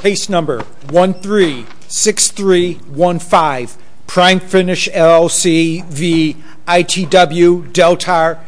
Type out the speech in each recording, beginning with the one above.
Case number 136315. Prime Finish LLC v. ITW Deltar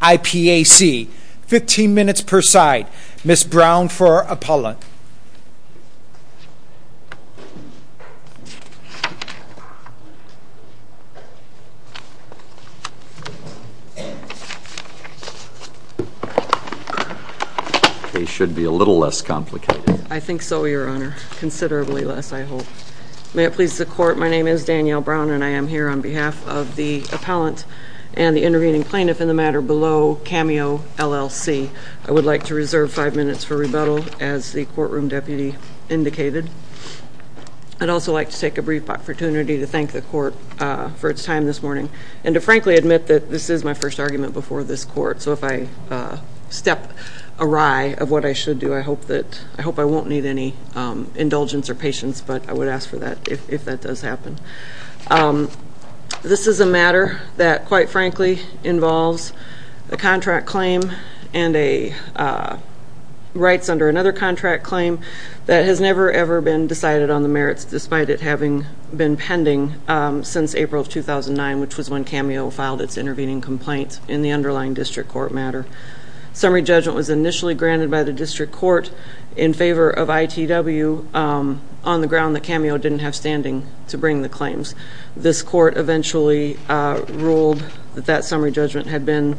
IPAC. 15 minutes per side. Ms. Brown for appellant. The case should be a little less complicated. I think so, Your Honor. Considerably less, I hope. May it please the court, my name is Danielle Brown and I am here on behalf of the appellant and the intervening plaintiff in the matter below Cameo LLC. I would like to reserve five minutes for rebuttal as the courtroom deputy indicated. I'd also like to take a brief opportunity to thank the court for its time this morning and to frankly admit that this is my first argument before this court, so if I step awry of what I should do, I hope that, I hope I won't need any indulgence or patience, but I would ask for that if that does happen. This is a matter that quite frankly involves a contract claim and a rights under another contract claim that has never ever been decided on the merits despite it having been pending since April of 2009, which was when Cameo filed its intervening complaint in the underlying district court matter. Summary judgment was initially granted by the district court in favor of ITW on the ground that Cameo didn't have standing to bring the claims. This court eventually ruled that that summary judgment had been,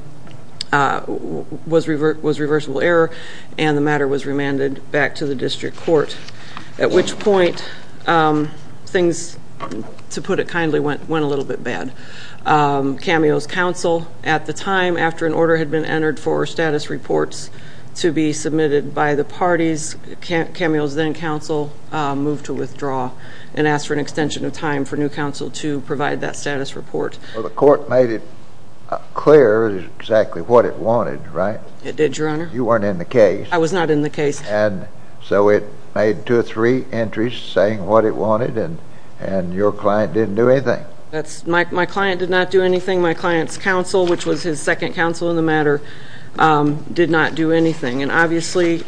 was reversible error and the matter was remanded back to the district court, at which point things, to put it kindly, went went a little bit bad. Cameo's counsel at the time after an order had been entered for status reports to be submitted by the parties, Cameo's then counsel moved to withdraw and asked for an extension of time for new counsel to provide that status report. Well the court made it clear exactly what it wanted, right? It did, your honor. You weren't in the case. I was not in the case. And so it made two or three entries saying what it wanted and your client didn't do anything. That's, my client did not do anything. My client's counsel, which was his second counsel in the matter, did not do anything and obviously.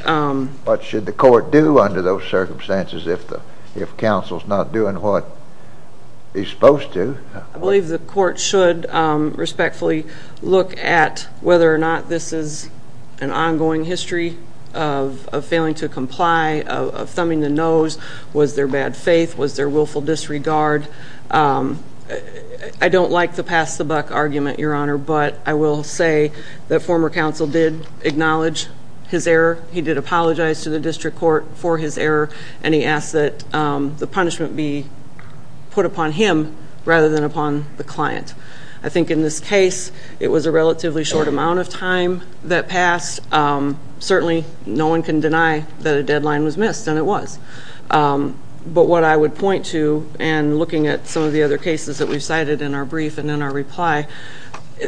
What should the court do under those circumstances if counsel's not doing what he's supposed to? I believe the court should respectfully look at whether or not this is an ongoing history of failing to comply, of thumbing the nose. Was there bad faith? Was there willful disregard? I don't like the pass-the-buck argument, your honor, but I will say that former counsel did acknowledge his error. He did apologize to the district court for his error and he asked that the punishment be put upon him rather than upon the client. I think in this case it was a relatively short amount of time that passed. Certainly no one can deny that a deadline was missed and it was. But what I would point to and looking at some of the other cases that we've cited in our brief and in our reply,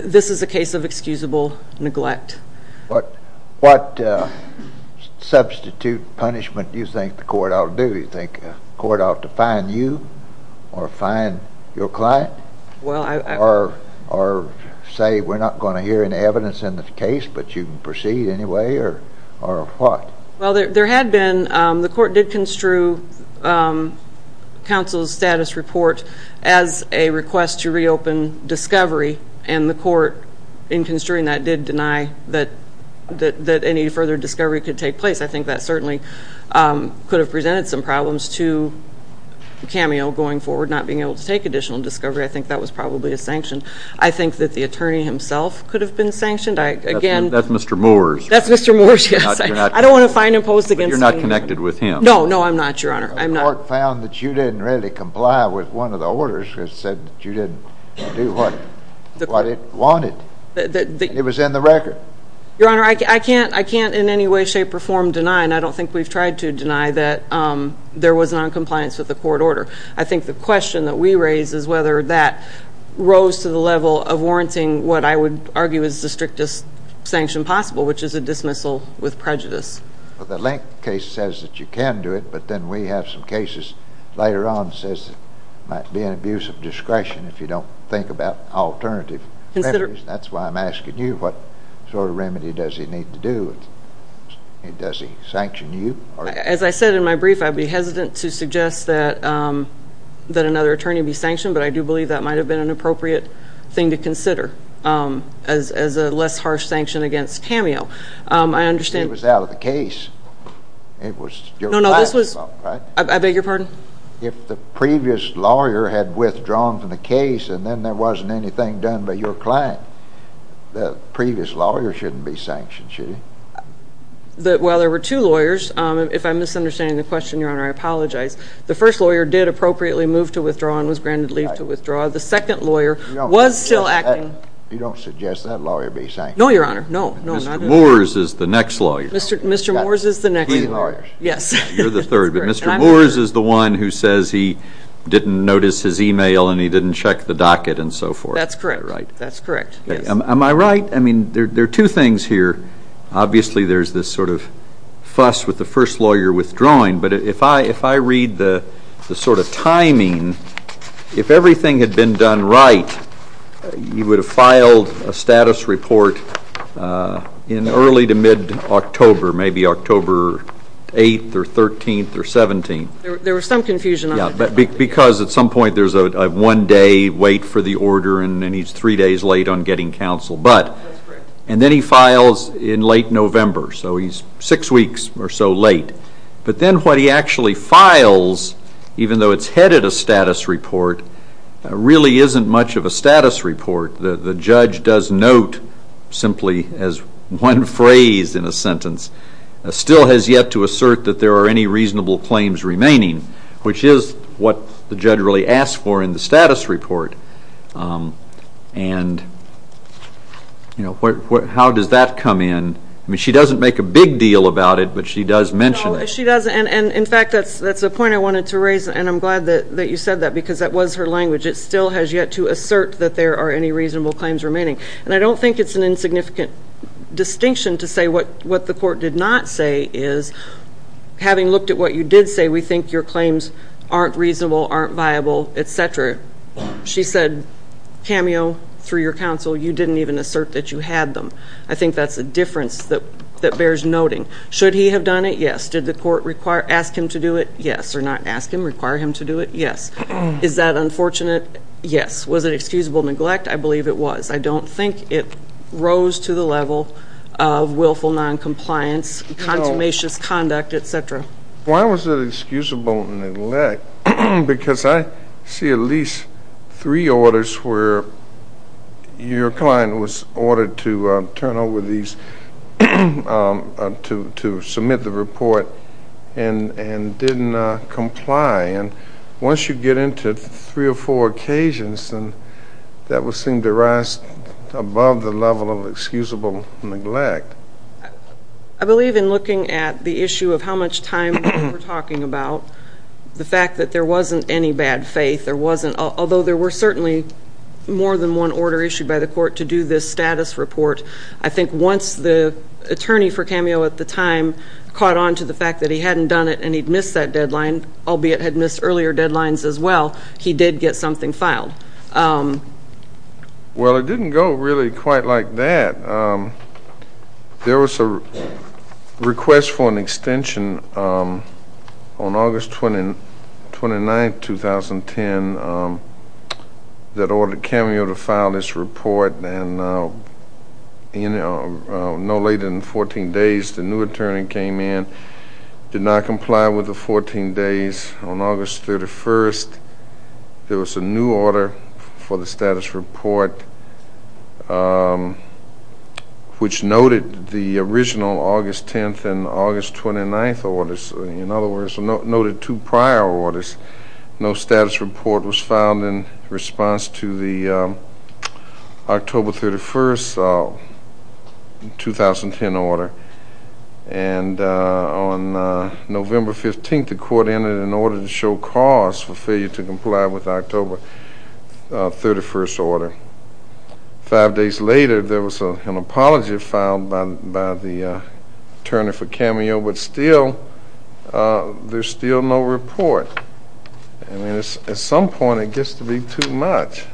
this is a case of excusable neglect. But what substitute punishment do you think the court ought to do? Do you deny your client or say we're not going to hear any evidence in this case but you can proceed anyway or what? Well there had been, the court did construe counsel's status report as a request to reopen discovery and the court in construing that did deny that any further discovery could take place. I think that certainly could have presented some problems to Cameo going forward, not being able to take additional discovery. I think that was probably a sanction. I think that the attorney himself could have been sanctioned. That's Mr. Moores. That's Mr. Moores, yes. I don't want to fine impose against him. But you're not connected with him. No, no I'm not, your honor. The court found that you didn't really comply with one of the orders that said that you didn't do what it wanted. It was in the record. Your honor, I can't in any way shape or form deny and I don't think we've tried to deny that there was non-compliance with the court order. I think the question that we raise is whether that rose to the level of warranting what I would argue is the strictest sanction possible, which is a dismissal with prejudice. The Link case says that you can do it but then we have some cases later on says it might be an abuse of discretion if you don't think about alternative. That's why I'm asking you what sort of remedy does he need to do? Does he sanction you? As I said in my brief, I'd be hesitant to suggest that another attorney be sanctioned but I do believe that might have been an appropriate thing to consider as a less harsh sanction against Cameo. I understand... It was out of the case. It was your client's fault, right? I beg your pardon? If the previous lawyer had withdrawn from the case and then there wasn't anything done by your client, the previous lawyer shouldn't be sanctioned, should he? Well, there were two questions, Your Honor. I apologize. The first lawyer did appropriately move to withdraw and was granted leave to withdraw. The second lawyer was still acting... You don't suggest that lawyer be sanctioned? No, Your Honor, no. Mr. Moores is the next lawyer. Mr. Moores is the next lawyer. He's the third. Mr. Moores is the one who says he didn't notice his email and he didn't check the docket and so forth. That's correct, right. That's correct. Am I right? I mean, there are two things here. Obviously, there's this sort of fuss with the first lawyer withdrawing, but if I read the sort of timing, if everything had been done right, you would have filed a status report in early to mid-October, maybe October 8th or 13th or 17th. There was some confusion. Yeah, but because at some point there's a one-day wait for the order and he's three days late on getting counsel, but... And then he files in late November, so he's six weeks or so late. But then what he actually files, even though it's headed a status report, really isn't much of a status report. The judge does note simply as one phrase in a sentence, still has yet to assert that there are any reasonable claims remaining, which is what the judge really for in the status report. And, you know, how does that come in? I mean, she doesn't make a big deal about it, but she does mention it. She does, and in fact, that's that's a point I wanted to raise, and I'm glad that you said that, because that was her language. It still has yet to assert that there are any reasonable claims remaining. And I don't think it's an insignificant distinction to say what what the court did not say is, having looked at what you did say, we think your She said, cameo through your counsel, you didn't even assert that you had them. I think that's a difference that that bears noting. Should he have done it? Yes. Did the court require, ask him to do it? Yes. Or not ask him, require him to do it? Yes. Is that unfortunate? Yes. Was it excusable neglect? I believe it was. I don't think it rose to the level of willful non-compliance, consummations misconduct, etc. Why was it excusable neglect? Because I see at least three orders where your client was ordered to turn over these, to submit the report, and and didn't comply. And once you get into three or four occasions, then that would seem to rise above the level of excusable neglect. I believe in looking at the issue of how much time we're talking about, the fact that there wasn't any bad faith, there wasn't, although there were certainly more than one order issued by the court to do this status report, I think once the attorney for cameo at the time caught on to the fact that he hadn't done it and he'd missed that deadline, albeit had missed earlier deadlines as well, he did get something for an extension on August 29th, 2010 that ordered cameo to file this report and no later than 14 days the new attorney came in, did not comply with the 14 days. On August 31st, there was a new order for the status report which noted the original August 10th and August 29th orders, in other words, noted two prior orders. No status report was filed in response to the October 31st, 2010 order and on November 15th, the court entered an order to show cause for failure to comply with October 31st order. Five days later, there was an apology filed by the attorney for cameo but still, there's still no report and at some point it gets to be too much.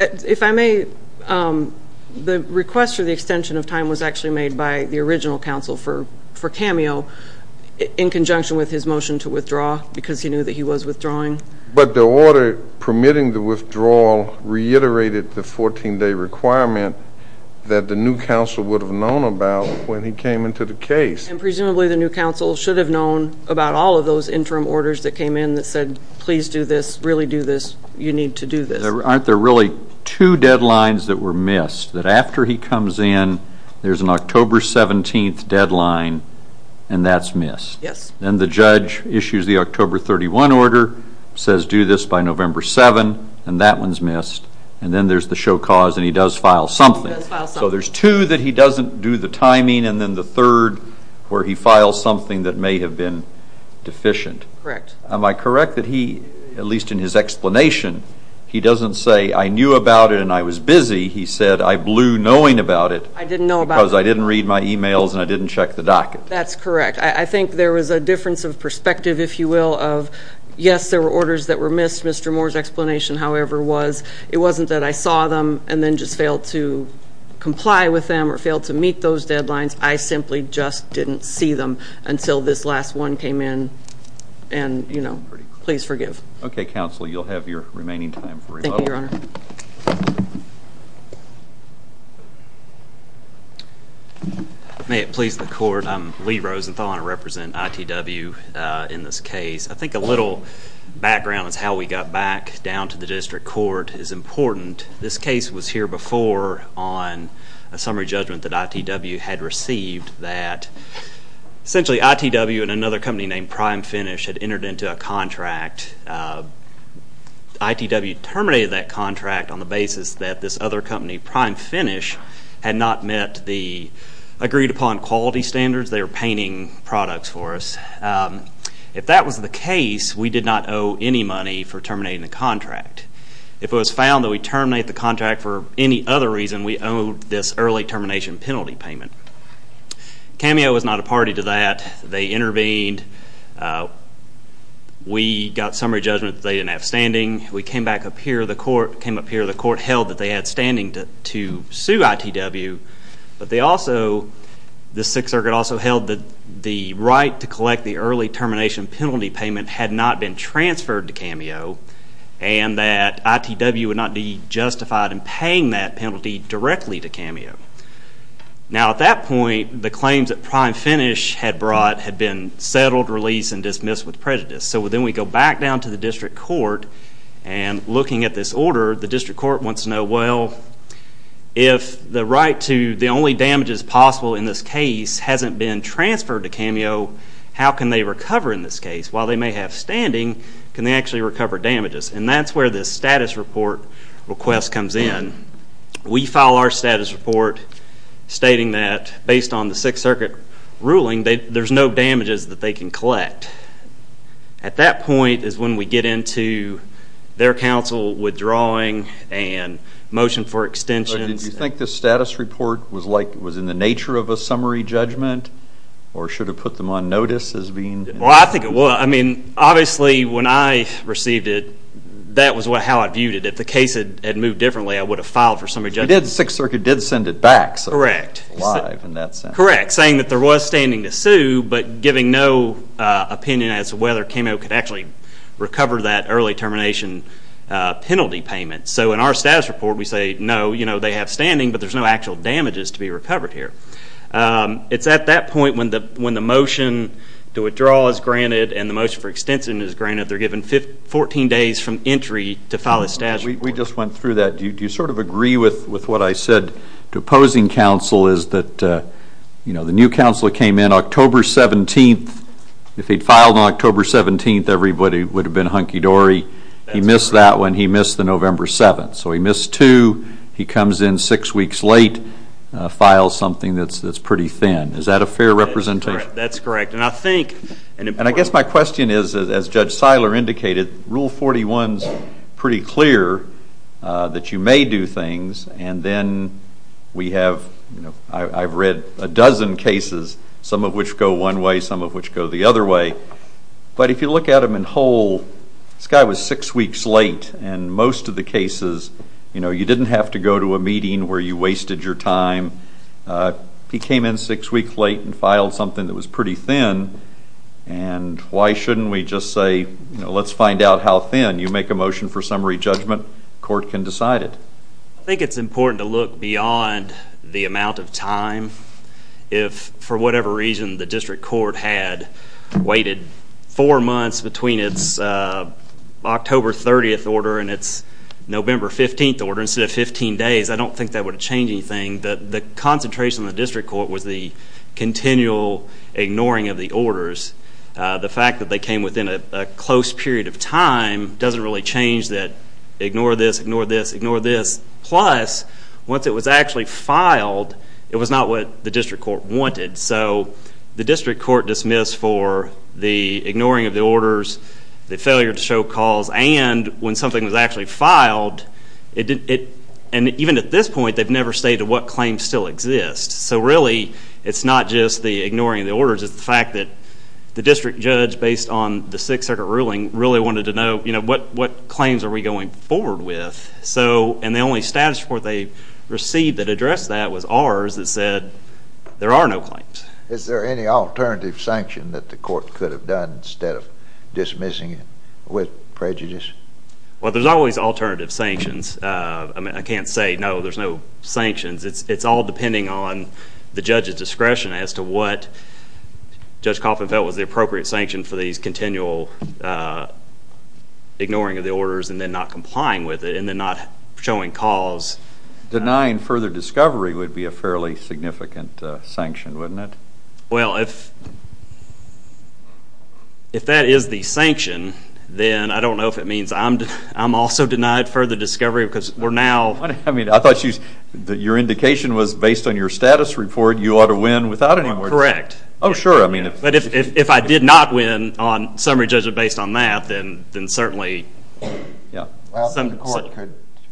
If I may, the request for the extension of time was actually made by the original counsel for cameo in conjunction with his motion to withdraw because he knew that he was withdrawing. But the order permitting the withdrawal reiterated the 14-day requirement that the new counsel would have known about when he came into the case. And presumably the new counsel should have known about all of those interim orders that came in that said, please do this, really do this, you need to do this. Aren't there really two deadlines that were missed? That after he comes in, there's an October 17th deadline and that's missed. Yes. Then the judge issues the October 31 order, says do this by November 7 and that one's missed and then there's the show cause and he does file something. So there's two that he doesn't do the timing and then the third where he files something that may have been deficient. Correct. Am I correct that he, at least in his explanation, he doesn't say I knew about it and I was busy. He said I blew knowing about it. I didn't know about it. Because I didn't read my emails and I didn't check the docket. That's correct. I think there was a difference of perspective, if you will, of yes, there were orders that were missed. Mr. Moore's explanation, however, was it wasn't that I saw them and then just failed to comply with them or failed to meet those deadlines. I simply just didn't see them until this last one came in and, you know, please forgive. Okay, counsel, you'll have your remaining time for rebuttal. Thank you, your honor. May it please the court, I'm Lee Rosenthal. I represent ITW in this case. I think a special background is how we got back down to the district court is important. This case was here before on a summary judgment that ITW had received that essentially ITW and another company named Prime Finish had entered into a contract. ITW terminated that contract on the basis that this other company, Prime Finish, had not met the agreed upon quality standards. They were painting products for us. If that was the case, we did not owe any money for terminating the contract. If it was found that we terminate the contract for any other reason, we owed this early termination penalty payment. Cameo was not a party to that. They intervened. We got summary judgment that they didn't have standing. We came back up here. The court came up here. The court held that they had standing to sue ITW, but they also, the Sixth Circuit also held that the right to collect the early termination penalty payment had not been transferred to Cameo and that ITW would not be justified in paying that penalty directly to Cameo. Now at that point, the claims that Prime Finish had brought had been settled, released, and dismissed with prejudice. So then we go back down to the district court and looking at this order, the district court wants to know, well, if the right to the only damages possible in this case hasn't been transferred to Cameo, how can they recover in this case? While they may have standing, can they actually recover damages? And that's where this status report request comes in. We file our status report stating that based on the Sixth Circuit ruling, there's no damages that they can collect. In fact, at that point is when we get into their counsel withdrawing and motion for extensions. Did you think this status report was in the nature of a summary judgment or should have put them on notice as being? Well, I think it was. I mean, obviously when I received it, that was how I viewed it. If the case had moved differently, I would have filed for summary judgment. The Sixth Circuit did send it back, so it was alive in that sense. Correct. Saying that there was standing to whether Cameo could actually recover that early termination penalty payment. So in our status report, we say, no, you know, they have standing, but there's no actual damages to be recovered here. It's at that point when the motion to withdraw is granted and the motion for extension is granted, they're given 14 days from entry to file a status report. We just went through that. Do you sort of agree with what I said to opposing counsel is that, you know, the new counsel came in October 17th. If he'd filed on October 17th, everybody would have been hunky dory. He missed that one. He missed the November 7th. So he missed two. He comes in six weeks late, files something that's pretty thin. Is that a fair representation? That's correct. And I think, and I guess my question is, as Judge Seiler indicated, Rule 41's pretty clear that you may do things and then we have, you know, I've read a dozen cases, some of which go one way, some of which go the other way, but if you look at them in whole, this guy was six weeks late and most of the cases, you know, you didn't have to go to a meeting where you wasted your time. He came in six weeks late and filed something that was pretty thin and why shouldn't we just say, you know, let's find out how thin. You make a motion for summary judgment, court can decide it. I think it's important to look beyond the amount of time. If for whatever reason the district court had waited four months between its October 30th order and its November 15th order instead of 15 days, I don't think that would have changed anything. The concentration of the district court was the continual ignoring of the orders. The fact that they came within a close period of time doesn't really change it. Ignore this, ignore this, ignore this. Plus, once it was actually filed, it was not what the district court wanted. So the district court dismissed for the ignoring of the orders, the failure to show calls, and when something was actually filed, and even at this point they've never stated what claims still exist. So really it's not just the ignoring of the orders, it's the fact that the district judge based on the Sixth Circuit ruling really wanted to know, you know, what claims are we going forward with? So, and the only status report they received that addressed that was ours that said there are no claims. Is there any alternative sanction that the court could have done instead of dismissing it with prejudice? Well, there's always alternative sanctions. I mean, I can't say no, there's no sanctions. It's all depending on the judge's discretion as to what Judge Coffman felt was the appropriate sanction for these continual ignoring of the orders and then not complying with it, and then not showing calls. Denying further discovery would be a fairly significant sanction, wouldn't it? Well, if that is the sanction, then I don't know if it means I'm also denied further discovery because we're now... I mean, I thought your indication was based on your status report, you ought to win without any more... Correct. Oh, sure, I mean... But if I did not win on summary judgment based on that, then certainly... Well, the court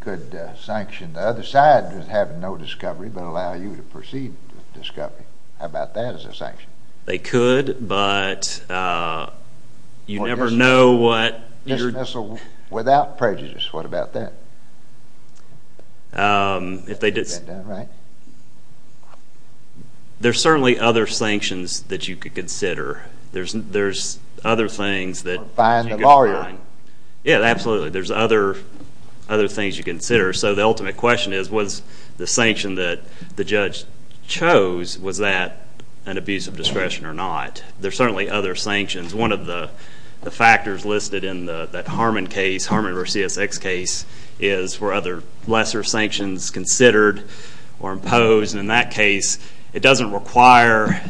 could sanction the other side with having no discovery, but allow you to proceed with discovery. How about that as a sanction? They could, but you never know what you're... Dismissal without prejudice, what about that? That's a good one, right? There's certainly other sanctions that you could consider. There's other things that... Or find the lawyer. Yeah, absolutely. There's other things you consider. So the ultimate question is, was the sanction that the judge chose, was that an abuse of discretion or not? There's certainly other sanctions. One of the factors listed in that Harmon case, Harmon versus X case, is were other lesser sanctions considered or imposed? And in that case, it doesn't require...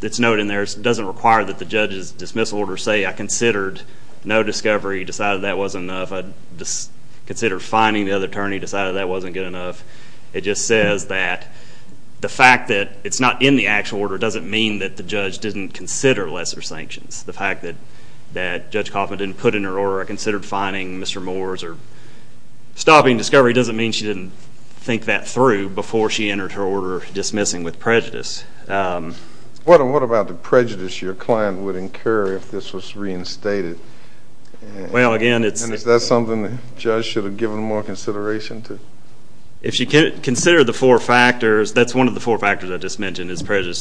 It's noted in there, it doesn't require that the judge's dismissal order say, I considered no discovery, decided that wasn't enough. I considered fining the other attorney, decided that wasn't good enough. It just says that the fact that it's not in the actual order doesn't mean that the judge didn't consider lesser sanctions. The fact that Judge Kaufman didn't put in her order, I considered fining Mr. Moores or stopping discovery doesn't mean she didn't think that through before she entered her order dismissing with prejudice. What about the prejudice your client would incur if this was reinstated? Well again, it's... And is that something the judge should have given more consideration to? If she considered the four factors, that's one of the four factors I just mentioned is a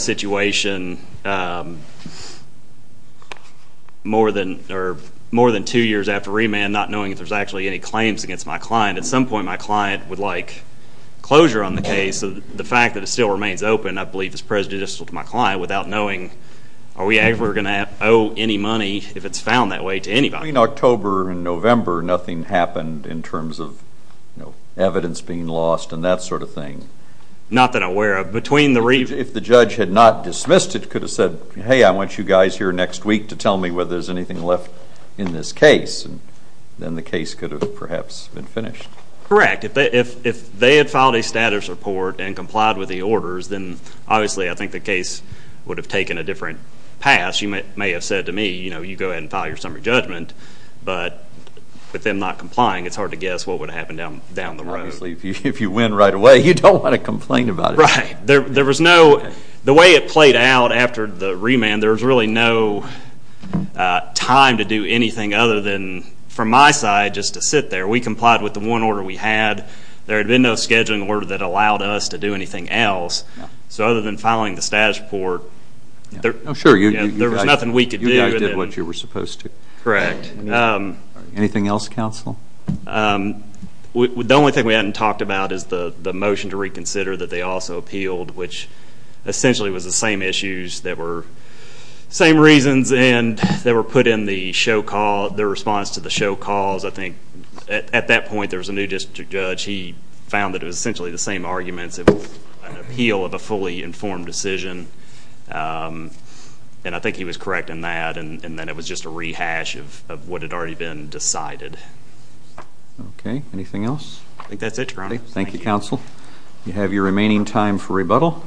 situation more than two years after remand, not knowing if there's actually any claims against my client. At some point, my client would like closure on the case. The fact that it still remains open, I believe, is prejudicial to my client without knowing are we ever going to owe any money if it's found that way to anybody. Between October and November, nothing happened in terms of evidence being lost and that sort of thing? Not that I'm aware of. Between the remand... If the judge had not dismissed it, could have said, hey, I want you guys here next week to tell me whether there's anything left in this case, then the case could have perhaps been finished. Correct. If they had filed a status report and complied with the orders, then obviously I think the case would have taken a different path. You may have said to me, you know, you go ahead and file your summary judgment, but with them not complying, it's hard to guess what would have happened down the road. Obviously, if you win right away, you don't want to complain about it. Right. There was no... The way it played out after the remand, there was really no time to do anything other than, from my side, just to sit there. We complied with the one order we had. There had been no scheduling order that allowed us to do anything else. So other than filing the status report, there was nothing we could do. You guys did what you were supposed to. Correct. Anything else, counsel? The only thing we haven't talked about is the motion to reconsider that they also appealed, which essentially was the same issues that were the same reasons, and they were put in the show call, the response to the show calls. I think at that point, there was a new district judge. He found that it was essentially the same arguments. It was an appeal of a fully informed decision, and I think he was correct in that, and then it was just a rehash of what had already been decided. Okay. Anything else? I think that's it, Your Honor. Thank you, counsel. You have your remaining time for rebuttal.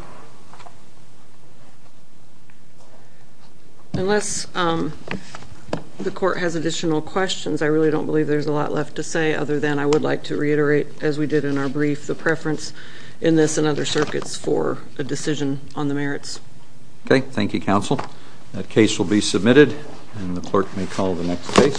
Unless the court has additional questions, I really don't believe there's a lot left to say other than I would like to reiterate, as we did in our brief, the preference in this and other circuits for a decision on the merits. Okay. Thank you, counsel. That case will be submitted, and the clerk may call the next case.